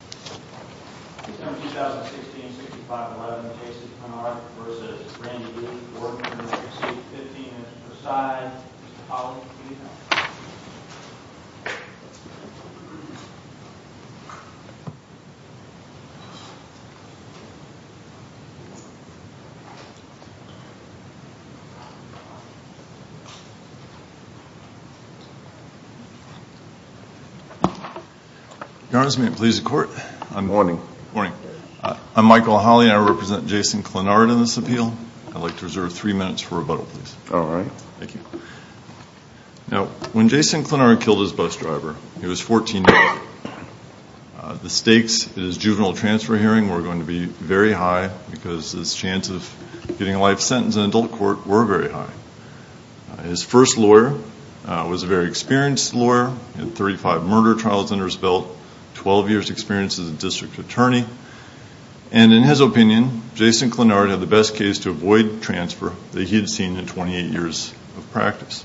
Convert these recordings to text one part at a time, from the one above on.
v. Precinct 15 v. Prasad. Mr. Powell, please come up. Your Honors, may it please the Court. Morning. I'm Michael Holley and I represent Jason Clinard in this appeal. I'd like to reserve three minutes for rebuttal, please. All right. Now, when Jason Clinard killed his bus driver, he was 14 years old. The stakes at his juvenile transfer hearing were going to be very high because his chance of getting a life sentence in adult court were very high. His first lawyer was a very experienced lawyer, had 35 murder trials under his belt, 12 years experience as a district attorney. And in his opinion, Jason Clinard had the best case to avoid transfer that he'd seen in 28 years of practice.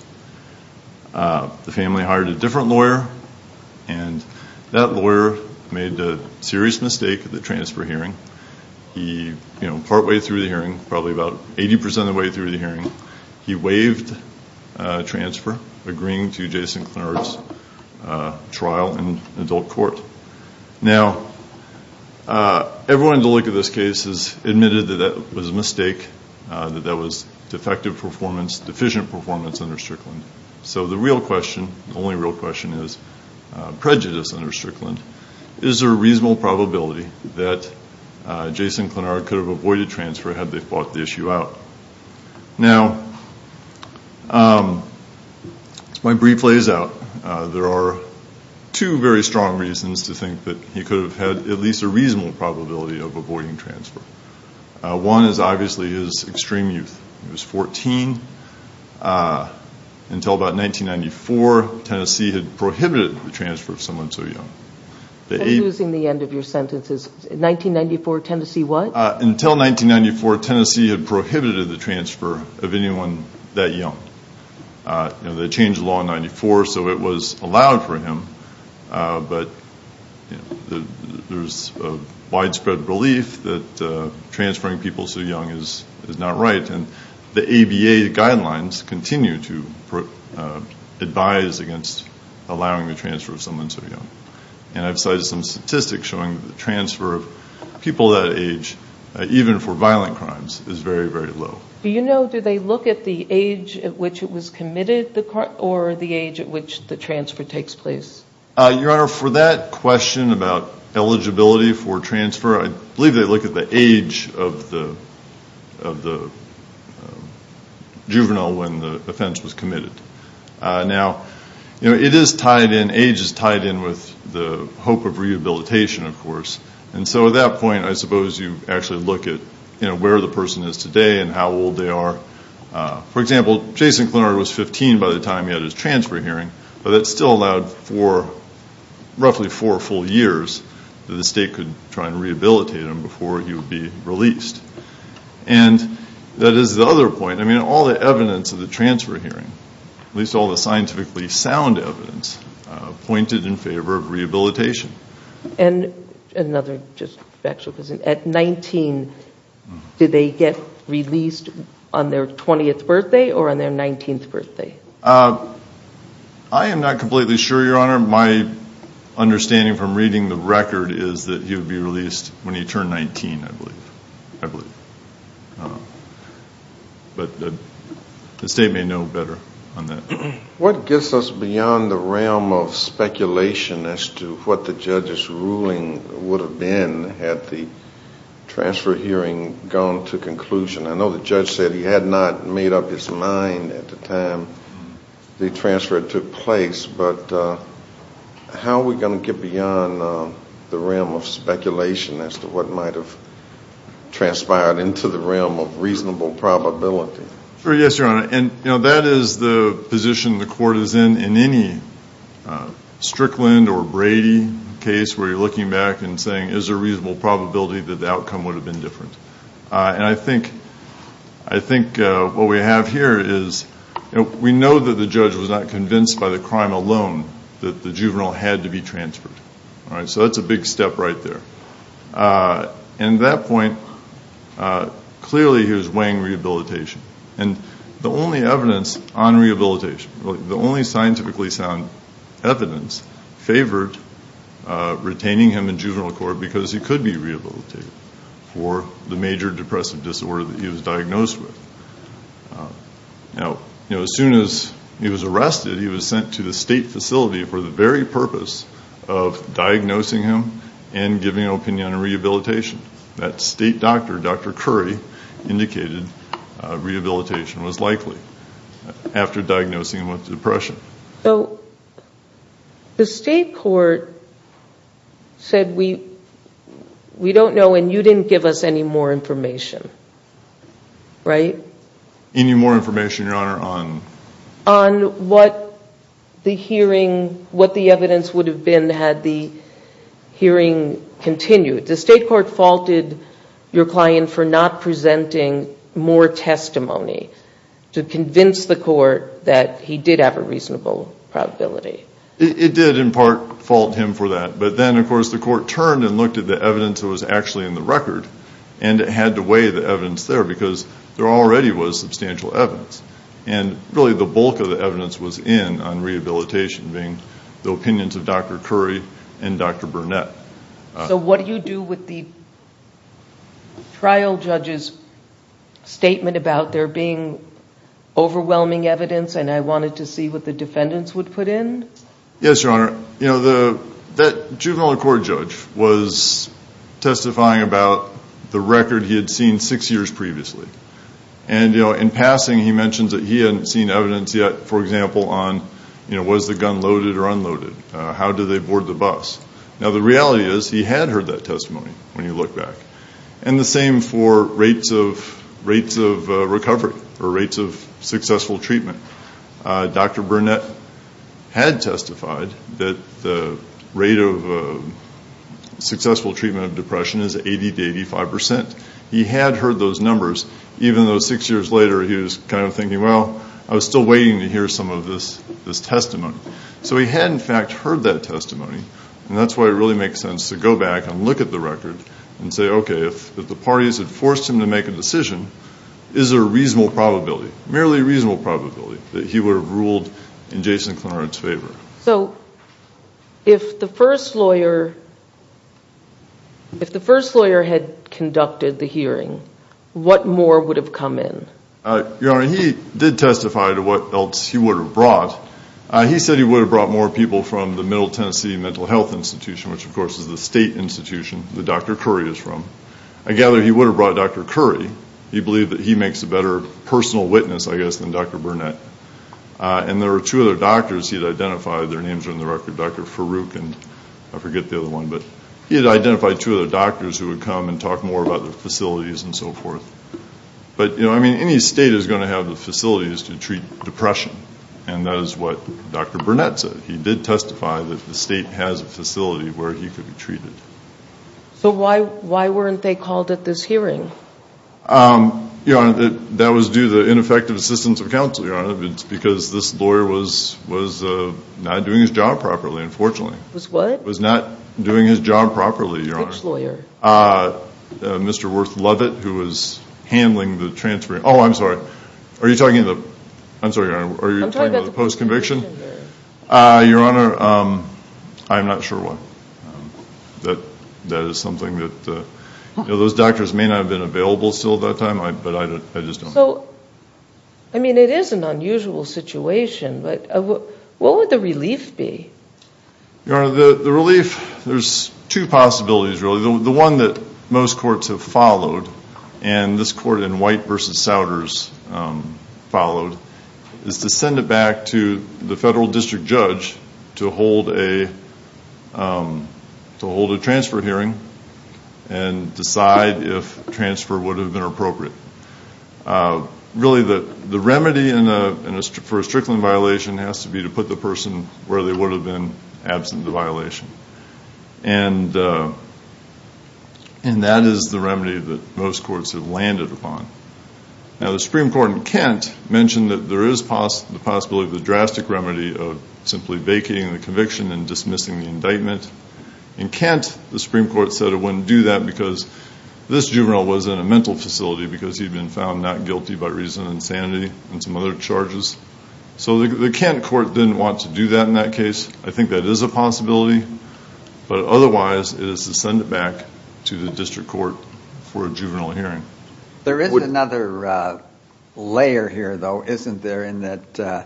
The family hired a different lawyer and that lawyer made a serious mistake at the transfer hearing. Partway through the hearing, probably about 80% of the way through the hearing, he waived transfer, agreeing to Jason Clinard's trial in adult court. Now, everyone to look at this case has admitted that that was a mistake, that that was defective performance, deficient under Strickland. So the real question, the only real question is prejudice under Strickland. Is there a reasonable probability that Jason Clinard could have avoided transfer had they fought the issue out? Now, my brief lays out. There are two very strong reasons to think that he could have had at least a reasonable probability of avoiding transfer. One is obviously his extreme youth. He until about 1994, Tennessee had prohibited the transfer of someone so young. That's losing the end of your sentences. 1994, Tennessee what? Until 1994, Tennessee had prohibited the transfer of anyone that young. They changed law in 94, so it was allowed for him. But there's a widespread belief that transferring people so young is not and the ABA guidelines continue to advise against allowing the transfer of someone so young. And I've cited some statistics showing that the transfer of people that age, even for violent crimes, is very, very low. Do you know, do they look at the age at which it was committed or the age at which the transfer takes place? Your Honor, for that question about the juvenile when the offense was committed. Now, it is tied in, age is tied in with the hope of rehabilitation, of course. And so at that point, I suppose you actually look at where the person is today and how old they are. For example, Jason Clinard was 15 by the time he had his transfer hearing, but that still allowed for roughly four full years that the state could try and rehabilitate him before he would be released. And that is the other point. I mean, all the evidence of the transfer hearing, at least all the scientifically sound evidence, pointed in favor of rehabilitation. And another just factual question. At 19, did they get released on their 20th birthday or on their 19th birthday? I am not completely sure, Your Honor. My understanding from reading the record is that they were 19, I believe. But the state may know better on that. What gets us beyond the realm of speculation as to what the judge's ruling would have been had the transfer hearing gone to conclusion? I know the judge said he had not made up his mind at the time the transfer took place, but how are we going to get beyond the realm of speculation as to what might have transpired into the realm of reasonable probability? Sure, yes, Your Honor. And that is the position the court is in in any Strickland or Brady case where you're looking back and saying, is there reasonable probability that the outcome would have been different? And I think what we have here is we know that the judge was not convinced by the crime alone that the juvenile had to be transferred. So that's a big step right there. And at that point, clearly he was weighing rehabilitation. And the only evidence on rehabilitation, the only scientifically sound evidence favored retaining him in juvenile court because he could be rehabilitated for the major depressive disorder that he was diagnosed with. Now, as soon as he was arrested, he was sent to the state facility for the very purpose of diagnosing him and giving an opinion on rehabilitation. That state doctor, Dr. Curry, indicated rehabilitation was likely after diagnosing him with depression. So the state court said, we don't know, and you didn't give us any more information, right? Any more information, Your Honor, on? On what the hearing, what the evidence would have been had the hearing continued. The state court faulted your client for not presenting more testimony to convince the court that he did have a reasonable probability. It did, in part, fault him for that. But then, of course, the court turned and looked at the evidence that was actually in the record, and it had to weigh the evidence there because there already was substantial evidence. And really, the bulk of the evidence was in on rehabilitation being the opinions of Dr. Curry and Dr. Burnett. So what do you do with the trial judge's statement about there being overwhelming evidence and I wanted to see what the defendants would put in? Yes, Your Honor. That juvenile court judge was And, you know, in passing, he mentioned that he hadn't seen evidence yet, for example, on, you know, was the gun loaded or unloaded? How did they board the bus? Now, the reality is, he had heard that testimony when you look back. And the same for rates of recovery or rates of successful treatment. Dr. Burnett had testified that the rate of successful treatment of depression is 80 to 85%. He had heard those numbers, even though six years later, he was kind of thinking, well, I was still waiting to hear some of this testimony. So he had, in fact, heard that testimony. And that's why it really makes sense to go back and look at the record and say, okay, if the parties had forced him to make a decision, is there a reasonable probability, merely reasonable probability, that he would have ruled in Jason Clarno's favor? So if the first lawyer, if the first lawyer had conducted the hearing, what more would have come in? Your Honor, he did testify to what else he would have brought. He said he would have brought more people from the Middle Tennessee Mental Health Institution, which, of course, is the state institution that Dr. Curry is from. I gather he would have brought Dr. Curry. He believed that he makes a better personal witness, I guess, than Dr. Burnett. And there were two other doctors he'd identified. Their names are in the record, Dr. Farouk and I forget the other one. But he had identified two other doctors who would come and talk more about the facilities and so forth. But, you know, I mean, any state is going to have the facilities to treat depression. And that is what Dr. Burnett said. He did testify that the state has a facility where he could be treated. So why weren't they called at this hearing? Your Honor, that was due to the ineffective assistance of counsel, Your Honor. It's because this lawyer was not doing his job properly, unfortunately. Was what? Was not doing his job properly, Your Honor. Which lawyer? Mr. Worth Lovett, who was handling the transfer. Oh, I'm sorry. Are you talking about the post conviction? Your Honor, I'm not sure why. That is something that, you know, those doctors may not have been available still at that time, but I just don't know. So, I mean, it is an unusual situation, but what would the relief be? Your Honor, the relief, there's two possibilities, really. The one that most courts have followed, and this court in White v. Souders followed, is to send it back to the federal district judge to hold a transfer hearing and decide if transfer would have been appropriate. Really, the remedy for a Strickland violation has to be to put the person where they would have been absent of the violation. And that is the remedy that most courts have landed upon. Now, the Supreme Court in Kent mentioned that there is the possibility of a drastic remedy of simply vacating the conviction and dismissing the indictment. In Kent, the because he'd been found not guilty by reason of insanity and some other charges. So the Kent court didn't want to do that in that case. I think that is a possibility, but otherwise it is to send it back to the district court for a juvenile hearing. There is another layer here, though, isn't there, in that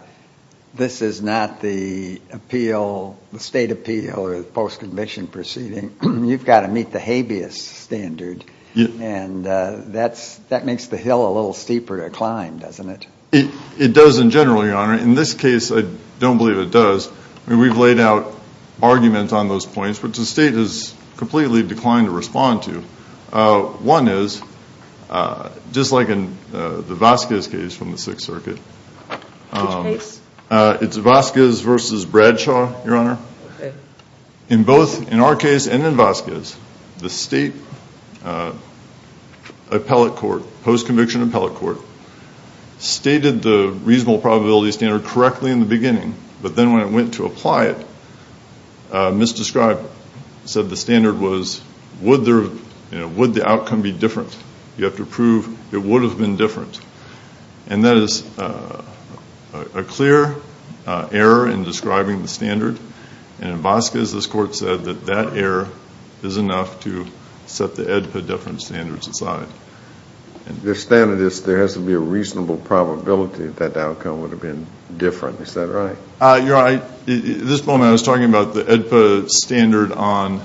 this is not the appeal, the state appeal or the post conviction proceeding. You've got to meet the habeas standard, and that makes the hill a little steeper to climb, doesn't it? It does in general, your honor. In this case, I don't believe it does. We've laid out arguments on those points, which the state has completely declined to respond to. One is, just like in the Vasquez case from the Sixth Circuit, it's Vasquez v. Bradshaw, your honor. In both, in our case and in Vasquez, the state appellate court, post conviction appellate court, stated the reasonable probability standard correctly in the beginning, but then when it went to apply it, misdescribed, said the standard was, would the outcome be different? You have to prove it would have been different, and that is a clear error in describing the standard, and in Vasquez, this court said that that error is enough to set the AEDPA difference standards aside. The standard is, there has to be a reasonable probability that the outcome would have been different, is that right? You're right. At this point, I was talking about the AEDPA standard on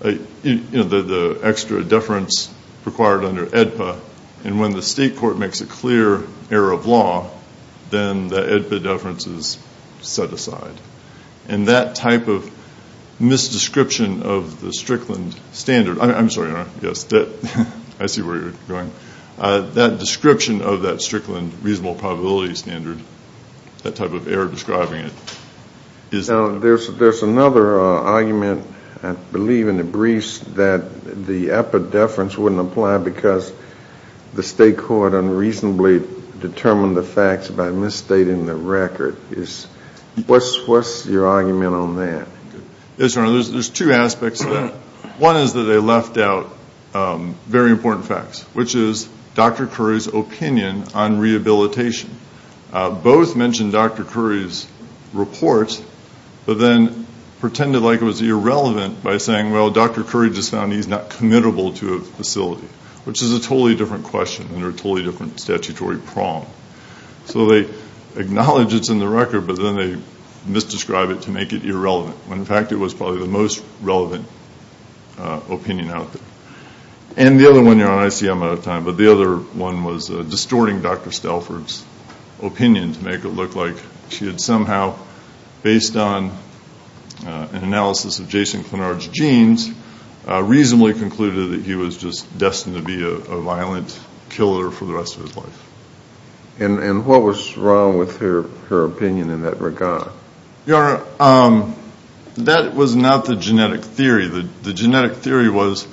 the extra deference required under AEDPA, and when the state court makes a clear error of law, then the AEDPA deference is set aside. That type of misdescription of the Strickland standard, I'm sorry, your honor. I see where you're going. That description of that Strickland reasonable probability standard, that type of error describing it. There's another argument, I believe in the briefs, that the AEDPA deference wouldn't apply because the state court unreasonably determined the facts by misstating the record. What's your argument on that? Yes, your honor. There's two aspects to that. One is that they misdescribed the rehabilitation. Both mentioned Dr. Curry's report, but then pretended like it was irrelevant by saying, well, Dr. Curry just found he's not committable to a facility, which is a totally different question under a totally different statutory prong. They acknowledge it's in the record, but then they misdescribe it to make it irrelevant, when in fact it was probably the most relevant opinion out there. The other one, your honor, I see I'm out of time, but the one was distorting Dr. Stelford's opinion to make it look like she had somehow, based on an analysis of Jason Clenard's genes, reasonably concluded that he was just destined to be a violent killer for the rest of his life. And what was wrong with her opinion in that regard? Your honor, that was not the genetic theory. The genetic theory was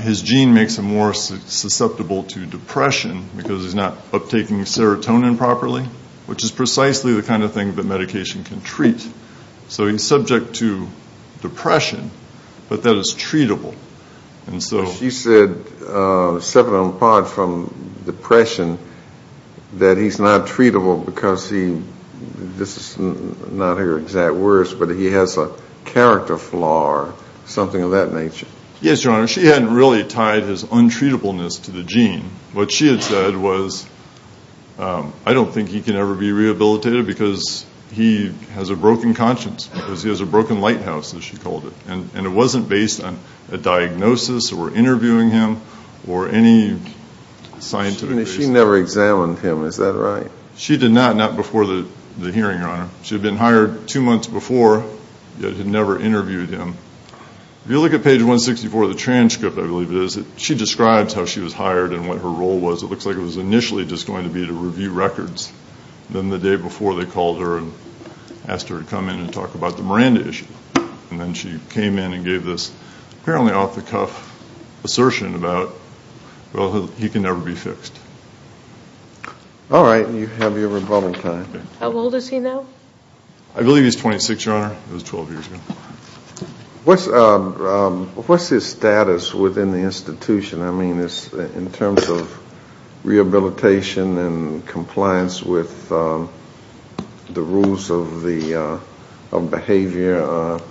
his gene makes him more susceptible to depression because he's not uptaking serotonin properly, which is precisely the kind of thing that medication can treat. So he's subject to depression, but that is treatable. And so she said, separate and apart from depression, that he's not treatable because this is not her exact words, but he has a character flaw or something of that nature. Yes, your honor. She hadn't really tied his untreatableness to the gene. What she had said was, I don't think he can ever be rehabilitated because he has a broken conscience, because he has a broken lighthouse, as she called it. And it wasn't based on a diagnosis or interviewing him or any scientific reason. She never examined him, is that right? She did not, not before the hearing, your honor. She had been hired two months before, yet had never interviewed him. If you look at page 164 of the transcript, I believe it is, she describes how she was hired and what her role was. It looks like it was initially just going to be to review records. Then the day before they called her and asked her to come in and talk about the Miranda issue. And then she came in and gave this apparently off the cuff assertion about, well, he can never be fixed. All right, you have your rebuttal time. How old is he now? I believe he's 26, your honor. It was 12 years ago. What's his status within the institution? I mean, in terms of rehabilitation and compliance with the rules of behavior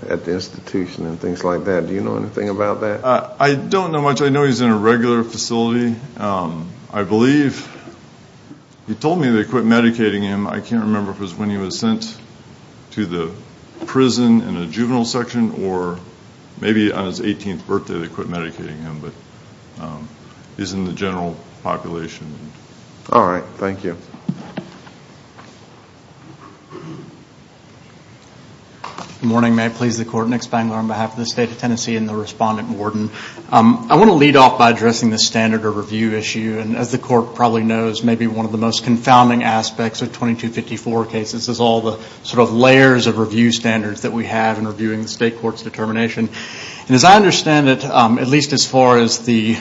at the institution and things like that. Do you know anything about that? I don't know much. I know he's in a regular facility. I believe he told me they quit medicating him. I can't remember if it was when he was sent to the prison in a juvenile section, or maybe on his 18th birthday they quit medicating him, but he's in the general population. All right. Thank you. Good morning. May it please the court. Nick Spangler on behalf of the state of Tennessee and the respondent warden. I want to lead off by addressing the standard of review issue. And as the court probably knows, maybe one of the most confounding aspects of 2254 cases is all the sort of layers of review standards that we have in reviewing the state court's determination. And as I understand it, at least as far as the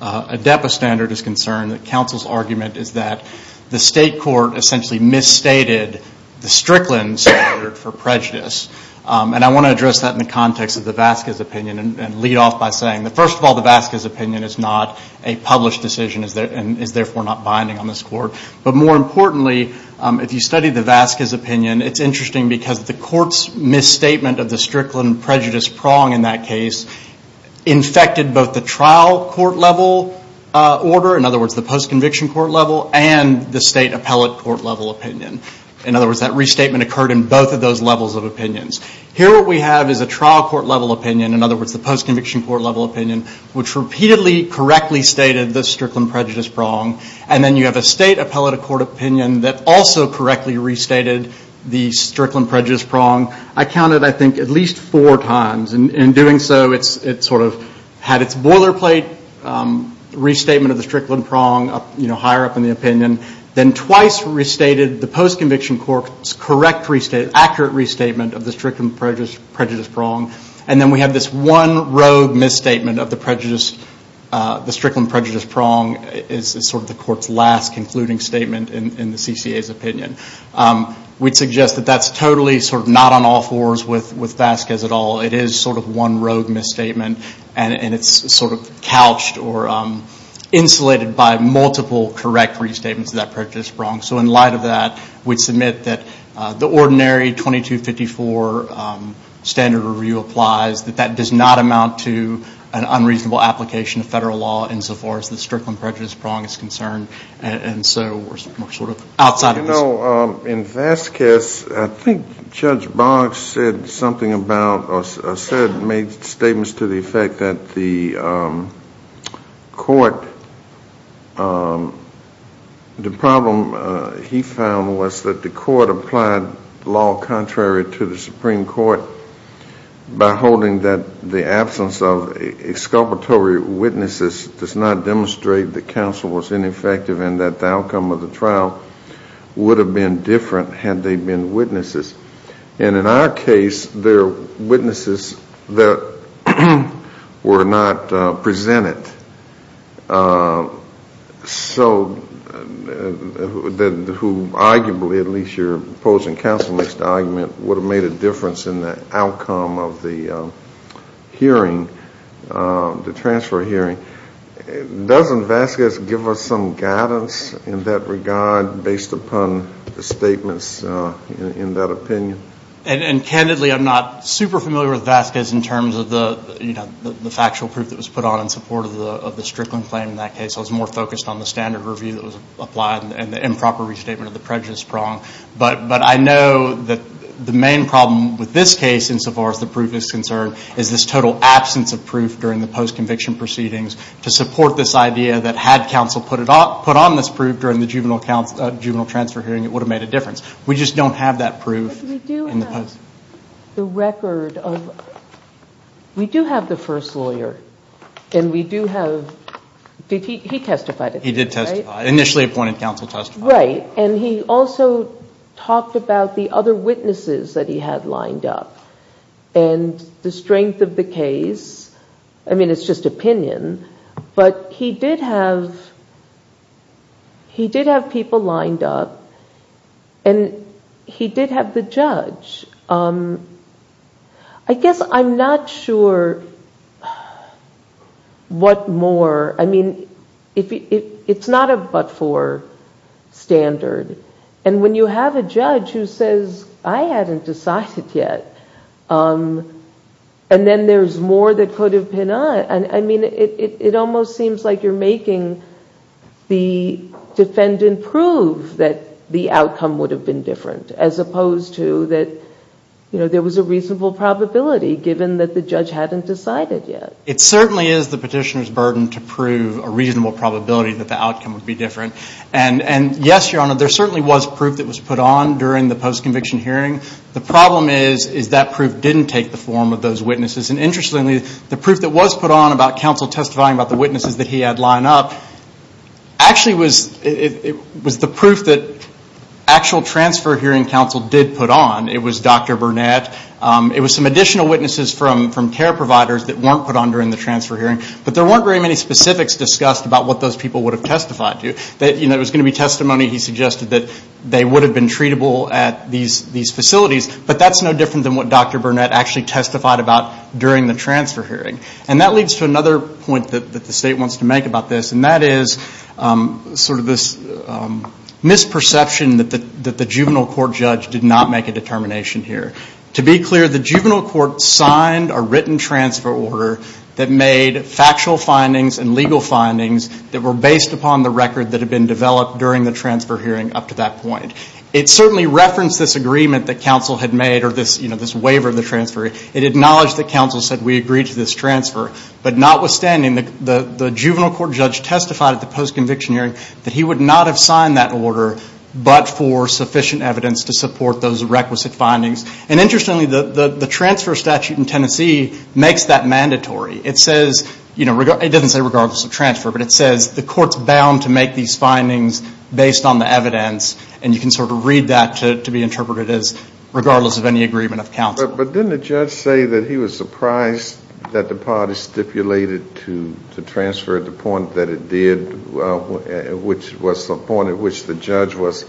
ADEPA standard is concerned, the council's argument is that the state court essentially misstated the Strickland standard for prejudice. And I want to address that in the context of the Vasquez opinion and lead off by saying that first of all, the Vasquez opinion is not a published decision and is therefore not binding on this court. But more importantly, if you study the Vasquez opinion, it's interesting because the court's misstatement of the Strickland prejudice prong in that case infected both the trial court level order, in other words, the post-conviction court level, and the state appellate court level In other words, that restatement occurred in both of those levels of opinions. Here what we have is a trial court level opinion, in other words, the post-conviction court level opinion, which repeatedly correctly stated the Strickland prejudice prong. And then you have a state appellate court opinion that also correctly restated the Strickland prejudice prong. I counted, I think, at least four times. In doing so, it sort of had its boilerplate restatement of the post-conviction court's correct, accurate restatement of the Strickland prejudice prong. And then we have this one rogue misstatement of the Strickland prejudice prong as sort of the court's last concluding statement in the CCA's opinion. We'd suggest that that's totally sort of not on all fours with Vasquez at all. It is sort of one rogue misstatement, and it's sort of couched or insulated by multiple correct restatements of that prejudice prong. So in we'd submit that the ordinary 2254 standard review applies, that that does not amount to an unreasonable application of federal law insofar as the Strickland prejudice prong is concerned. And so we're sort of outside of this. You know, in Vasquez, I think Judge Boggs said something about, or said, made statements to the effect that the court, the problem he found was that the court applied law contrary to the Supreme Court by holding that the absence of exculpatory witnesses does not demonstrate that counsel was ineffective and that the outcome of the trial would have been different had they been witnesses. And in our case, they're witnesses that were not presented. So who arguably, at least your opposing counsel makes the argument, would have made a difference in the outcome of the hearing, the transfer hearing. Doesn't Vasquez give us some guidance in that regard based upon the statements in that opinion? And candidly, I'm not super familiar with Vasquez in terms of the factual proof that was put on in support of the Strickland claim in that case. I was more focused on the standard review that was applied and the improper restatement of the prejudice prong. But I know that the main problem with this case, insofar as the proof is concerned, is this total absence of proof during the post juvenile transfer hearing, it would have made a difference. We just don't have that proof. But we do have the record of, we do have the first lawyer and we do have, did he testify? He did testify. Initially appointed counsel testified. Right. And he also talked about the other witnesses that he had lined up and the strength of the case. I mean, it's just opinion, but he did have people lined up and he did have the judge. I guess I'm not sure what more, I mean, it's not a but-for standard. And when you have a judge who says, I hadn't decided yet, and then there's more that could have been, I mean, it almost seems like you're making the defendant prove that the outcome would have been different as opposed to that, you know, there was a reasonable probability given that the judge hadn't decided yet. It certainly is the petitioner's burden to prove a reasonable probability that the outcome would And yes, Your Honor, there certainly was proof that was put on during the post-conviction hearing. The problem is, is that proof didn't take the form of those witnesses. And interestingly, the proof that was put on about counsel testifying about the witnesses that he had lined up, actually was, it was the proof that actual transfer hearing counsel did put on. It was Dr. Burnett. It was some additional witnesses from care providers that weren't put on during the transfer hearing, but there weren't very many specifics discussed about what those people would have testified to. You know, there was going to be testimony he suggested that they would have been treatable at these facilities, but that's no different than what Dr. Burnett actually testified about during the transfer hearing. And that leads to another point that the state wants to make about this, and that is sort of this misperception that the juvenile court judge did not make a determination here. To be clear, the juvenile court signed a written transfer order that made factual findings and legal findings that were based upon the record that had been developed during the transfer hearing up to that point. It certainly referenced this agreement that counsel had made, or this, you know, this waiver of the transfer. It acknowledged that counsel said, we agree to this transfer. But notwithstanding, the juvenile court judge testified at the post-conviction hearing that he would not have signed that order but for sufficient evidence to support those requisite findings. And interestingly, the transfer statute in Tennessee makes that mandatory. It says, you know, it doesn't say regardless of transfer, but it says the court's bound to make these findings based on the evidence. And you can sort of read that to be interpreted as regardless of any agreement of counsel. But didn't the judge say that he was surprised that the party stipulated to transfer at the point that it did, which was the point at which the judge was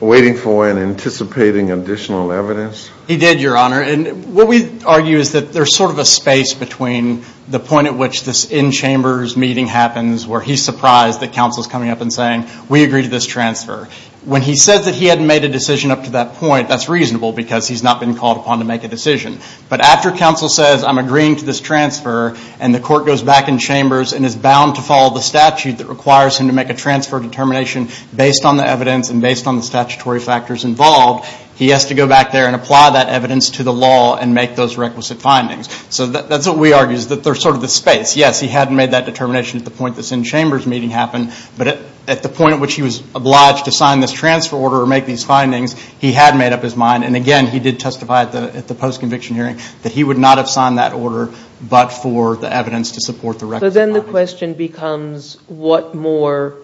waiting for and anticipating additional evidence? He did, Your Honor. And what we argue is that there's sort of a space between the point at which this in-chambers meeting happens, where he's surprised that counsel's coming up and saying, we agree to this transfer. When he says that he hadn't made a decision up to that point, that's reasonable because he's not been called upon to make a decision. But after counsel says, I'm agreeing to this transfer, and the court goes back in chambers and is bound to follow the statute that requires him to make a transfer determination based on the evidence and based on the statutory factors involved, he has to go back there and apply that evidence to the law and make those requisite findings. So that's what we argue, is that there's sort of the space. Yes, he hadn't made that determination at the point this in-chambers meeting happened, but at the point at which he was obliged to sign this transfer order or make these findings, he had made up his mind. And again, he did testify at the post-conviction hearing that he would not have signed that order but for the evidence to support the requisite findings. So then the question becomes, what more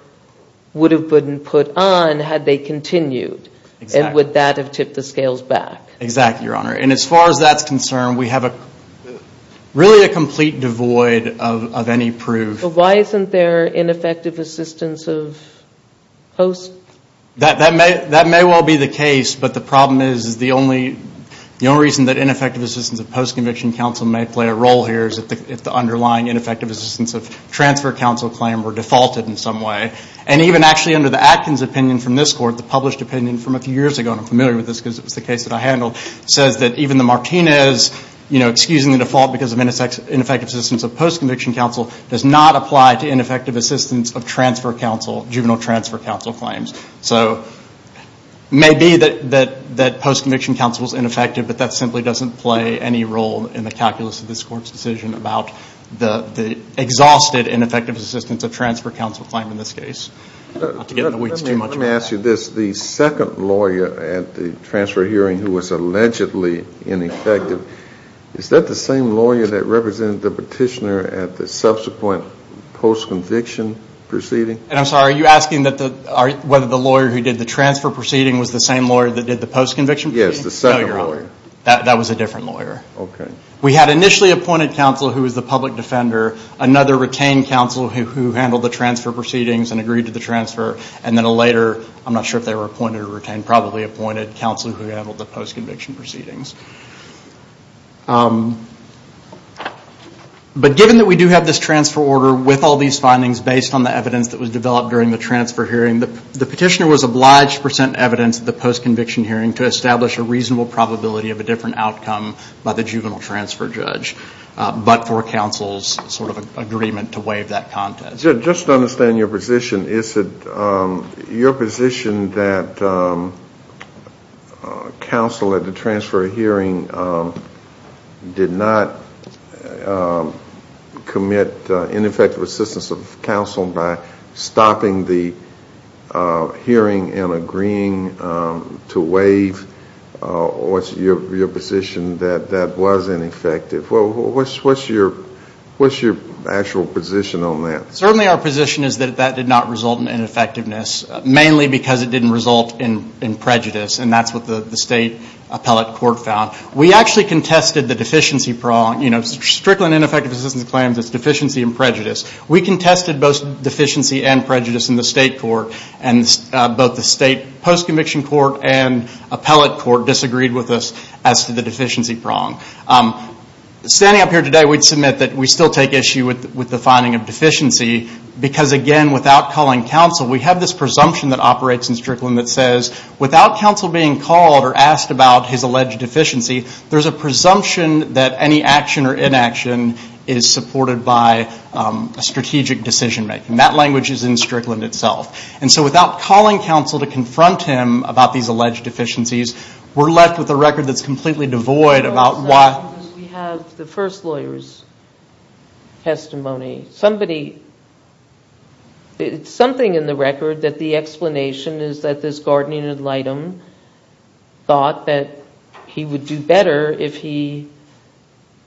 would have Budden put on had they continued? Exactly. And would that have tipped the scales back? Exactly, Your Honor. And as far as that's concerned, we have really a complete devoid of any proof. Why isn't there ineffective assistance of post? That may well be the case, but the problem is the only reason that ineffective assistance of post-conviction counsel may play a role here is if the underlying ineffective assistance of transfer counsel claim were defaulted in some way. And even actually under the Atkins opinion from this Court, the published opinion from a few years ago, and I'm familiar with this because it was the case that I handled, says that even the Martinez excusing the default because of ineffective assistance of post-conviction counsel does not apply to ineffective assistance of transfer counsel, juvenile transfer counsel claims. So it may be that post-conviction counsel is ineffective, but that simply doesn't play any role in the calculus of this Court's decision about the exhausted ineffective assistance of transfer counsel claim in this case. Let me ask you this. The second lawyer at the transfer hearing who was allegedly ineffective, is that the same lawyer that represented the petitioner at the subsequent post-conviction proceeding? And I'm sorry, are you asking whether the lawyer who did the transfer proceeding was the same lawyer that did the post-conviction proceeding? Yes, the second lawyer. That was a different lawyer. Okay. We had initially appointed counsel who was the public defender, another retained counsel who handled the transfer proceedings and agreed to the transfer, and then a later, I'm not sure if they were appointed or retained, probably appointed counsel who handled the post-conviction proceedings. But given that we do have this transfer order with all these findings based on the evidence that was developed during the transfer hearing, the petitioner was obliged to present evidence at the post-conviction hearing to establish a reasonable probability of a different outcome by the juvenile transfer judge, but for counsel's sort of agreement to waive that contest. Just to understand your position, is it your position that counsel at the transfer hearing did not commit ineffective assistance of counsel by stopping the hearing and agreeing to waive? Or is it your position that that was ineffective? What's your actual position on that? Certainly our position is that that did not result in ineffectiveness, mainly because it didn't result in prejudice, and that's what the state appellate court found. We actually contested the deficiency prong. Strictly in ineffective assistance claims, it's deficiency and prejudice. We contested both deficiency and prejudice in the state court, and both the state post-conviction court and appellate court disagreed with us as to the deficiency prong. Standing up here today, we'd submit that we still take issue with the finding of deficiency because again, without calling counsel, we have this presumption that operates in Strickland that says, without counsel being called or asked about his alleged deficiency, there's a presumption that any action or inaction is supported by a strategic decision-making. That language is in Strickland itself. And so without calling counsel to confront him about these alleged deficiencies, we're left with a record that's completely devoid about why... It's something in the record that the explanation is that this guardian ad litem thought that he would do better if he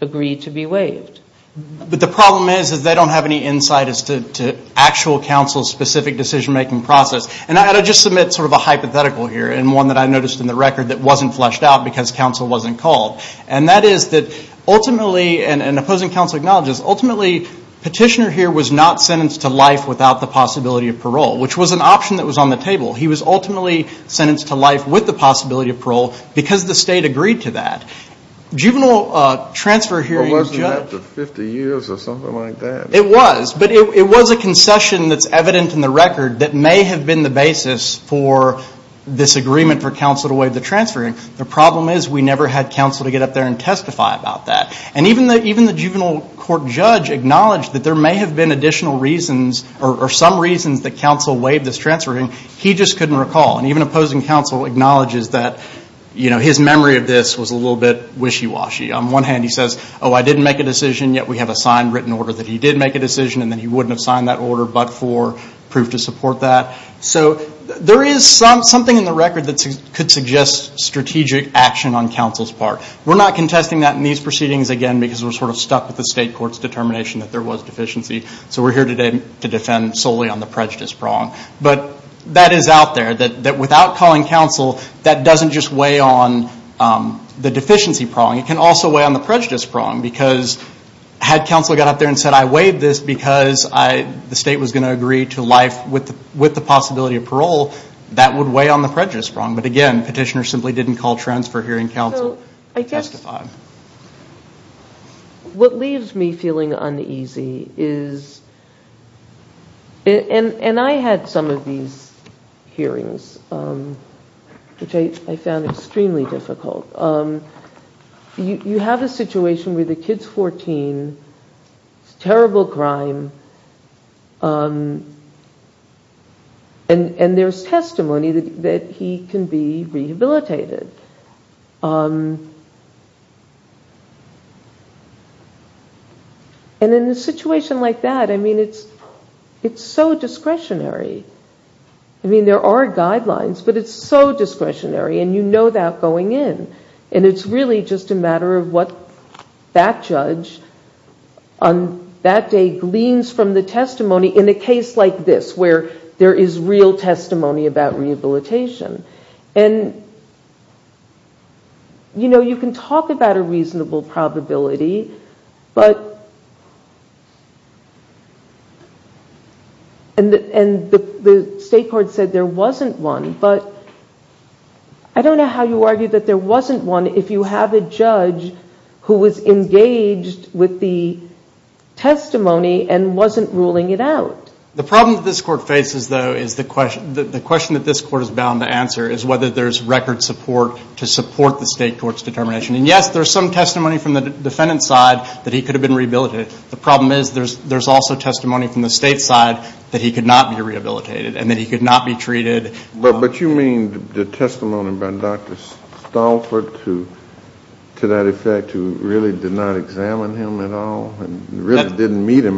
agreed to be waived. But the problem is that they don't have any insight as to actual counsel's specific decision-making process. And I'll just submit sort of a hypothetical here, and one that I noticed in the record that wasn't fleshed out because counsel wasn't called. And that is that ultimately, and opposing counsel acknowledges, ultimately petitioner here was not sentenced to life without the possibility of parole, which was an option that was on the table. He was ultimately sentenced to life with the possibility of parole because the state agreed to that. Juvenile transfer hearing... It wasn't after 50 years or something like that. It was, but it was a concession that's evident in the record that may have been the basis for this agreement for counsel to waive the transfer. The problem is we never had counsel to get up there and testify about that. And even the juvenile court judge acknowledged that there may have been additional reasons or some reasons that counsel waived this transfer hearing. He just couldn't recall. And even opposing counsel acknowledges that his memory of this was a little bit wishy-washy. On one hand, he says, oh, I didn't make a decision, yet we have a signed written order that he did make a decision, and then he wouldn't have signed that order but for proof to support that. So there is something in the record that could suggest strategic action on counsel's part. We're not contesting that in these proceedings, again, because we're sort of stuck with the state court's determination that there was deficiency. So we're here today to defend solely on the prejudice prong. But that is out there, that without calling counsel, that doesn't just weigh on the deficiency prong. It can also weigh on the prejudice prong because had counsel got up there and said, I waived this because the state was going to agree to life with the possibility of parole, that would weigh on the prejudice prong. But again, petitioner simply didn't call transfer hearing counsel. I guess what leaves me feeling uneasy is, and I had some of these hearings, which I found extremely difficult. You have a situation where the kid's 14, terrible crime, and there's testimony that he can be rehabilitated. And in a situation like that, I mean, it's so discretionary. I mean, there are guidelines, but it's so discretionary, and you know that going in. And it's really just a matter of what that judge on that day gleans from the testimony in a case like this, where there is real testimony about rehabilitation. And you can talk about a reasonable probability, and the state court said there wasn't one. But I don't know how you argue that there wasn't one if you have a judge who was engaged with the testimony and wasn't ruling it out. The problem that this court faces, though, is the question that this court is bound to answer is whether there's record support to support the state court's determination. And yes, there's some testimony from the defendant's side that he could have been rehabilitated. The problem is there's also testimony from the state's side that he could not be rehabilitated and that he could not be treated. But you mean the testimony by Dr. Stolfart to that effect, who really did not examine him at all and really didn't meet him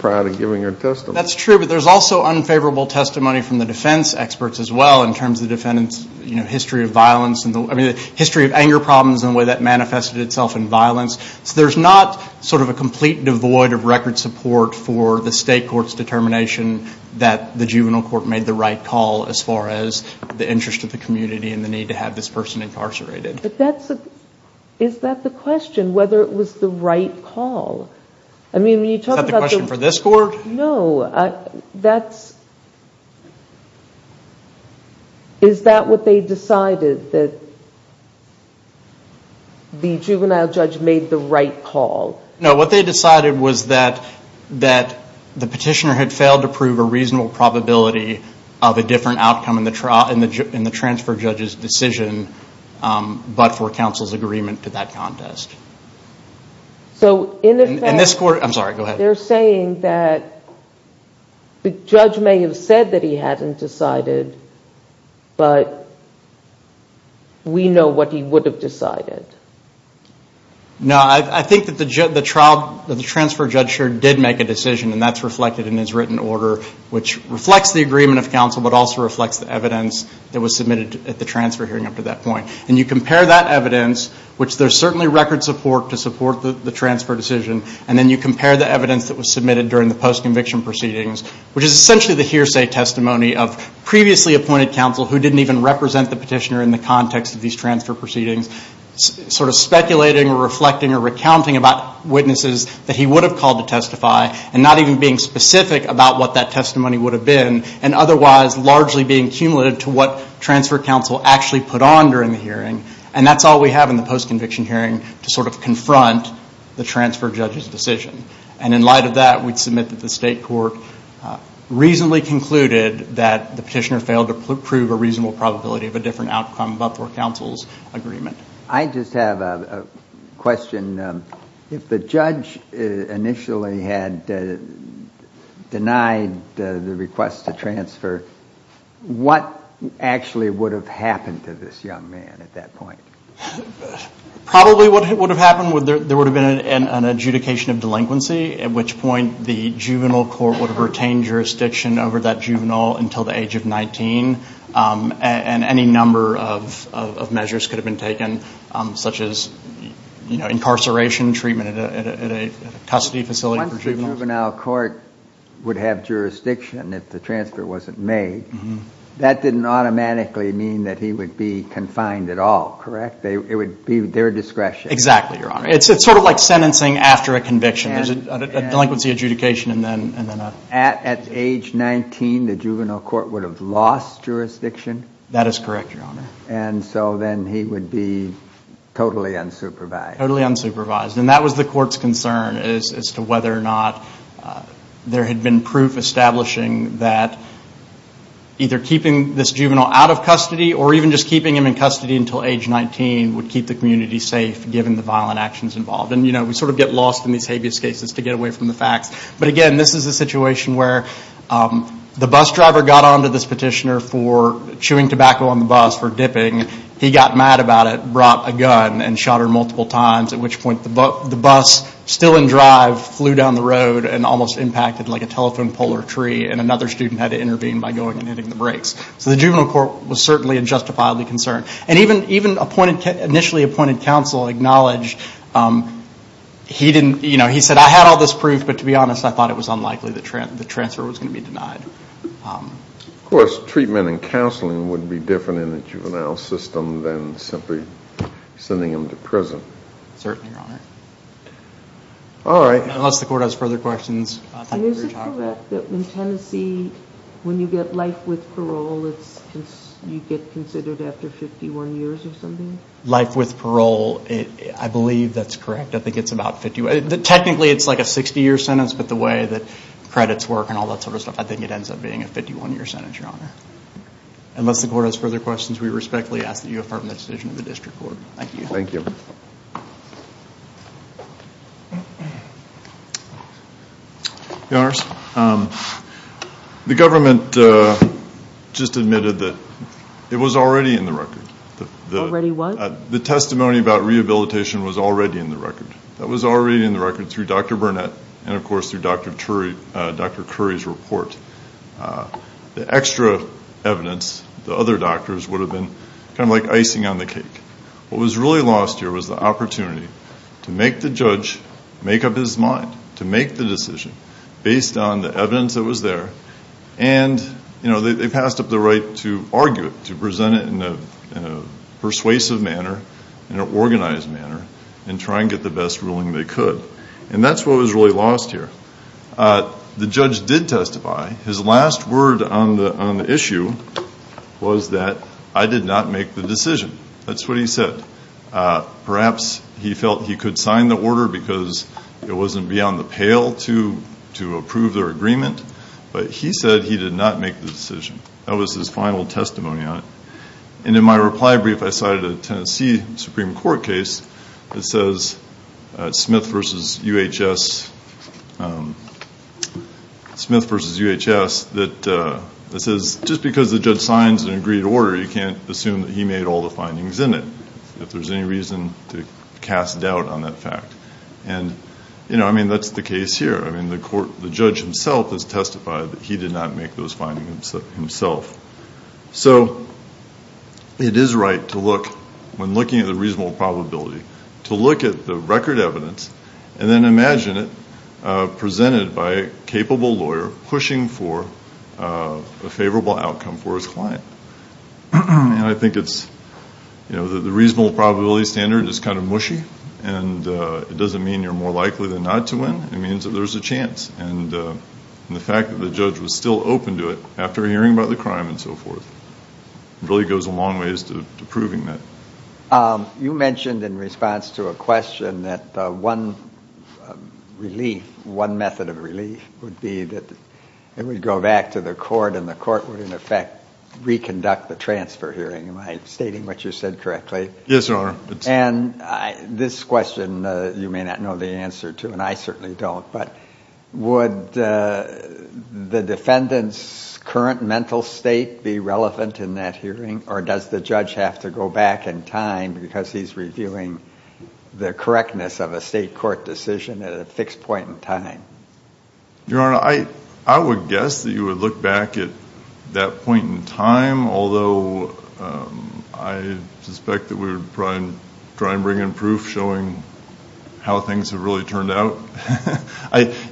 prior to giving her testimony? That's true. But there's also unfavorable testimony from the defense experts as well in terms of the defendant's history of violence and the history of anger problems and the way that manifested itself in violence. So there's not sort of a complete devoid of record support for the state court's determination that the juvenile court made the right call as far as the interest of the community and the need to have this person incarcerated. But is that the question, whether it was the right call? Is that the question for this court? No, that's... Is that what they decided, that the juvenile judge made the right call? No, what they decided was that the petitioner had failed to prove a reasonable probability of a different outcome in the transfer judge's decision but for counsel's agreement to that contest. So in effect... In this court... I'm sorry, go ahead. They're saying that the judge may have said that he hadn't decided but we know what he would have decided. No, I think that the transfer judge here did make a decision and that's reflected in his written order which reflects the agreement of counsel but also reflects the evidence that was submitted at the transfer hearing up to that point. And you compare that evidence, which there's certainly record support to support the evidence that was submitted during the post-conviction proceedings, which is essentially the hearsay testimony of previously appointed counsel who didn't even represent the petitioner in the context of these transfer proceedings sort of speculating or reflecting or recounting about witnesses that he would have called to testify and not even being specific about what that testimony would have been and otherwise largely being cumulative to what transfer counsel actually put on during the hearing. And that's all we have in the post-conviction hearing to sort of confront the transfer judge's decision. And in light of that, we'd submit that the state court reasonably concluded that the petitioner failed to prove a reasonable probability of a different outcome about their counsel's agreement. I just have a question. If the judge initially had denied the request to transfer, what actually would have happened to this young man at that point? Probably what would have happened, there would have been an adjudication of delinquency, at which point the juvenile court would have retained jurisdiction over that juvenile until the age of 19, and any number of measures could have been taken, such as incarceration treatment at a custody facility for juveniles. Once the juvenile court would have jurisdiction if the transfer wasn't made, that didn't automatically mean that he would be confined at all, correct? It would be their discretion. Exactly, Your Honor. It's sort of like sentencing after a conviction. There's a delinquency adjudication and then a... At age 19, the juvenile court would have lost jurisdiction? That is correct, Your Honor. And so then he would be totally unsupervised. Totally unsupervised. And that was the court's concern as to whether or not there had been proof establishing that either keeping this juvenile out of custody or even just keeping him in custody until age 19 would keep the community safe given the violent actions involved. And, you know, we sort of get lost in these habeas cases to get away from the facts. But again, this is a situation where the bus driver got onto this petitioner for chewing tobacco on the bus for dipping. He got mad about it, brought a gun and shot her multiple times, at which point the bus still in drive flew down the road and almost impacted like a telephone pole or tree, and another student had to intervene by going and hitting the brakes. So the juvenile court was certainly and justifiably concerned. And even initially appointed counsel acknowledged he said, I had all this proof, but to be honest, I thought it was unlikely the transfer was going to be denied. Of course, treatment and counseling would be different in a juvenile system than simply sending him to prison. Certainly, Your Honor. All right. Unless the court has further questions. Thank you for your time. Is it correct that in Tennessee, when you get life with parole, you get considered after 51 years or something? Life with parole, I believe that's correct. I think it's about 50. Technically, it's like a 60-year sentence, but the way that credits work and all that sort of stuff, I think it ends up being a 51-year sentence, Your Honor. Unless the court has further questions, we respectfully ask that you affirm the decision of the district court. Thank you. Thank you. Your Honor, the government just admitted that it was already in the record. Already what? The testimony about rehabilitation was already in the record. That was already in the record through Dr. Burnett and, of course, through Dr. Curry's report. The extra evidence, the other doctors would have been kind of like icing on the cake. What was really lost here was the opportunity to make the judge make up his mind, to make the decision based on the evidence that was there, and they passed up the right to argue it, to present it in a persuasive manner, in an organized manner, and try and get the best ruling they could. That's what was really lost here. The judge did testify. His last word on the issue was that I did not make the decision. That's what he said. Perhaps he felt he could sign the order because it wasn't beyond the pale to approve their agreement, but he said he did not make the decision. That was his final testimony on it. And in my reply brief, I cited a Tennessee Supreme Court case that says, Smith v. UHS, that says just because the judge signs an agreed order, you can't assume that he made all the findings in it, if there's any reason to cast doubt on that fact. I mean, that's the case here. I mean, the judge himself has testified that he did not make those findings himself. So it is right to look, when looking at the reasonable probability, to look at the record evidence and then imagine it presented by a capable lawyer pushing for a favorable outcome for his client. And I think it's, you know, the reasonable probability standard is kind of mushy. And it doesn't mean you're more likely than not to win. It means that there's a chance. And the fact that the judge was still open to it after hearing about the crime and so forth really goes a long ways to proving that. You mentioned in response to a question that one relief, one method of relief would be that it would go back to the court and the court would, in effect, reconduct the transfer hearing. Am I stating what you said correctly? Yes, Your Honor. And this question, you may not know the answer to, and I certainly don't. But would the defendant's current mental state be relevant in that hearing? Or does the judge have to go back in time because he's reviewing the correctness of a state court decision at a fixed point in time? Your Honor, I would guess that you would look back at that point in time. Although I suspect that we would probably try and bring in proof showing how things have really turned out.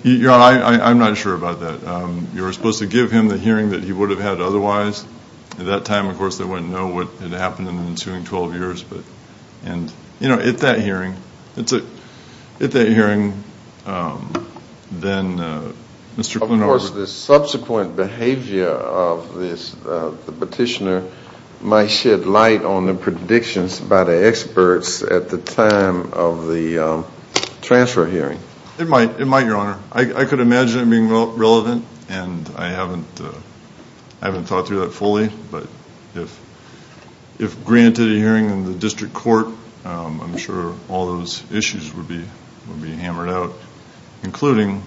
Your Honor, I'm not sure about that. You're supposed to give him the hearing that he would have had otherwise. At that time, of course, they wouldn't know what had happened in the ensuing 12 years. And, you know, at that hearing, then Mr. Klinower... Of course, the subsequent behavior of the petitioner might shed light on the predictions by the experts at the time of the transfer hearing. It might, Your Honor. I could imagine it being relevant, and I haven't thought through that fully. But if granted a hearing in the district court, I'm sure all those issues would be hammered out, including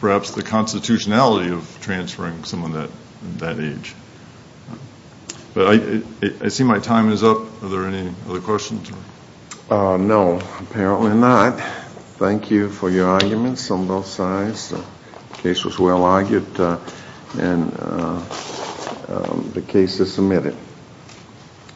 perhaps the constitutionality of transferring someone that age. But I see my time is up. Are there any other questions? No, apparently not. Thank you for your arguments on both sides. The case was well argued. And the case is submitted.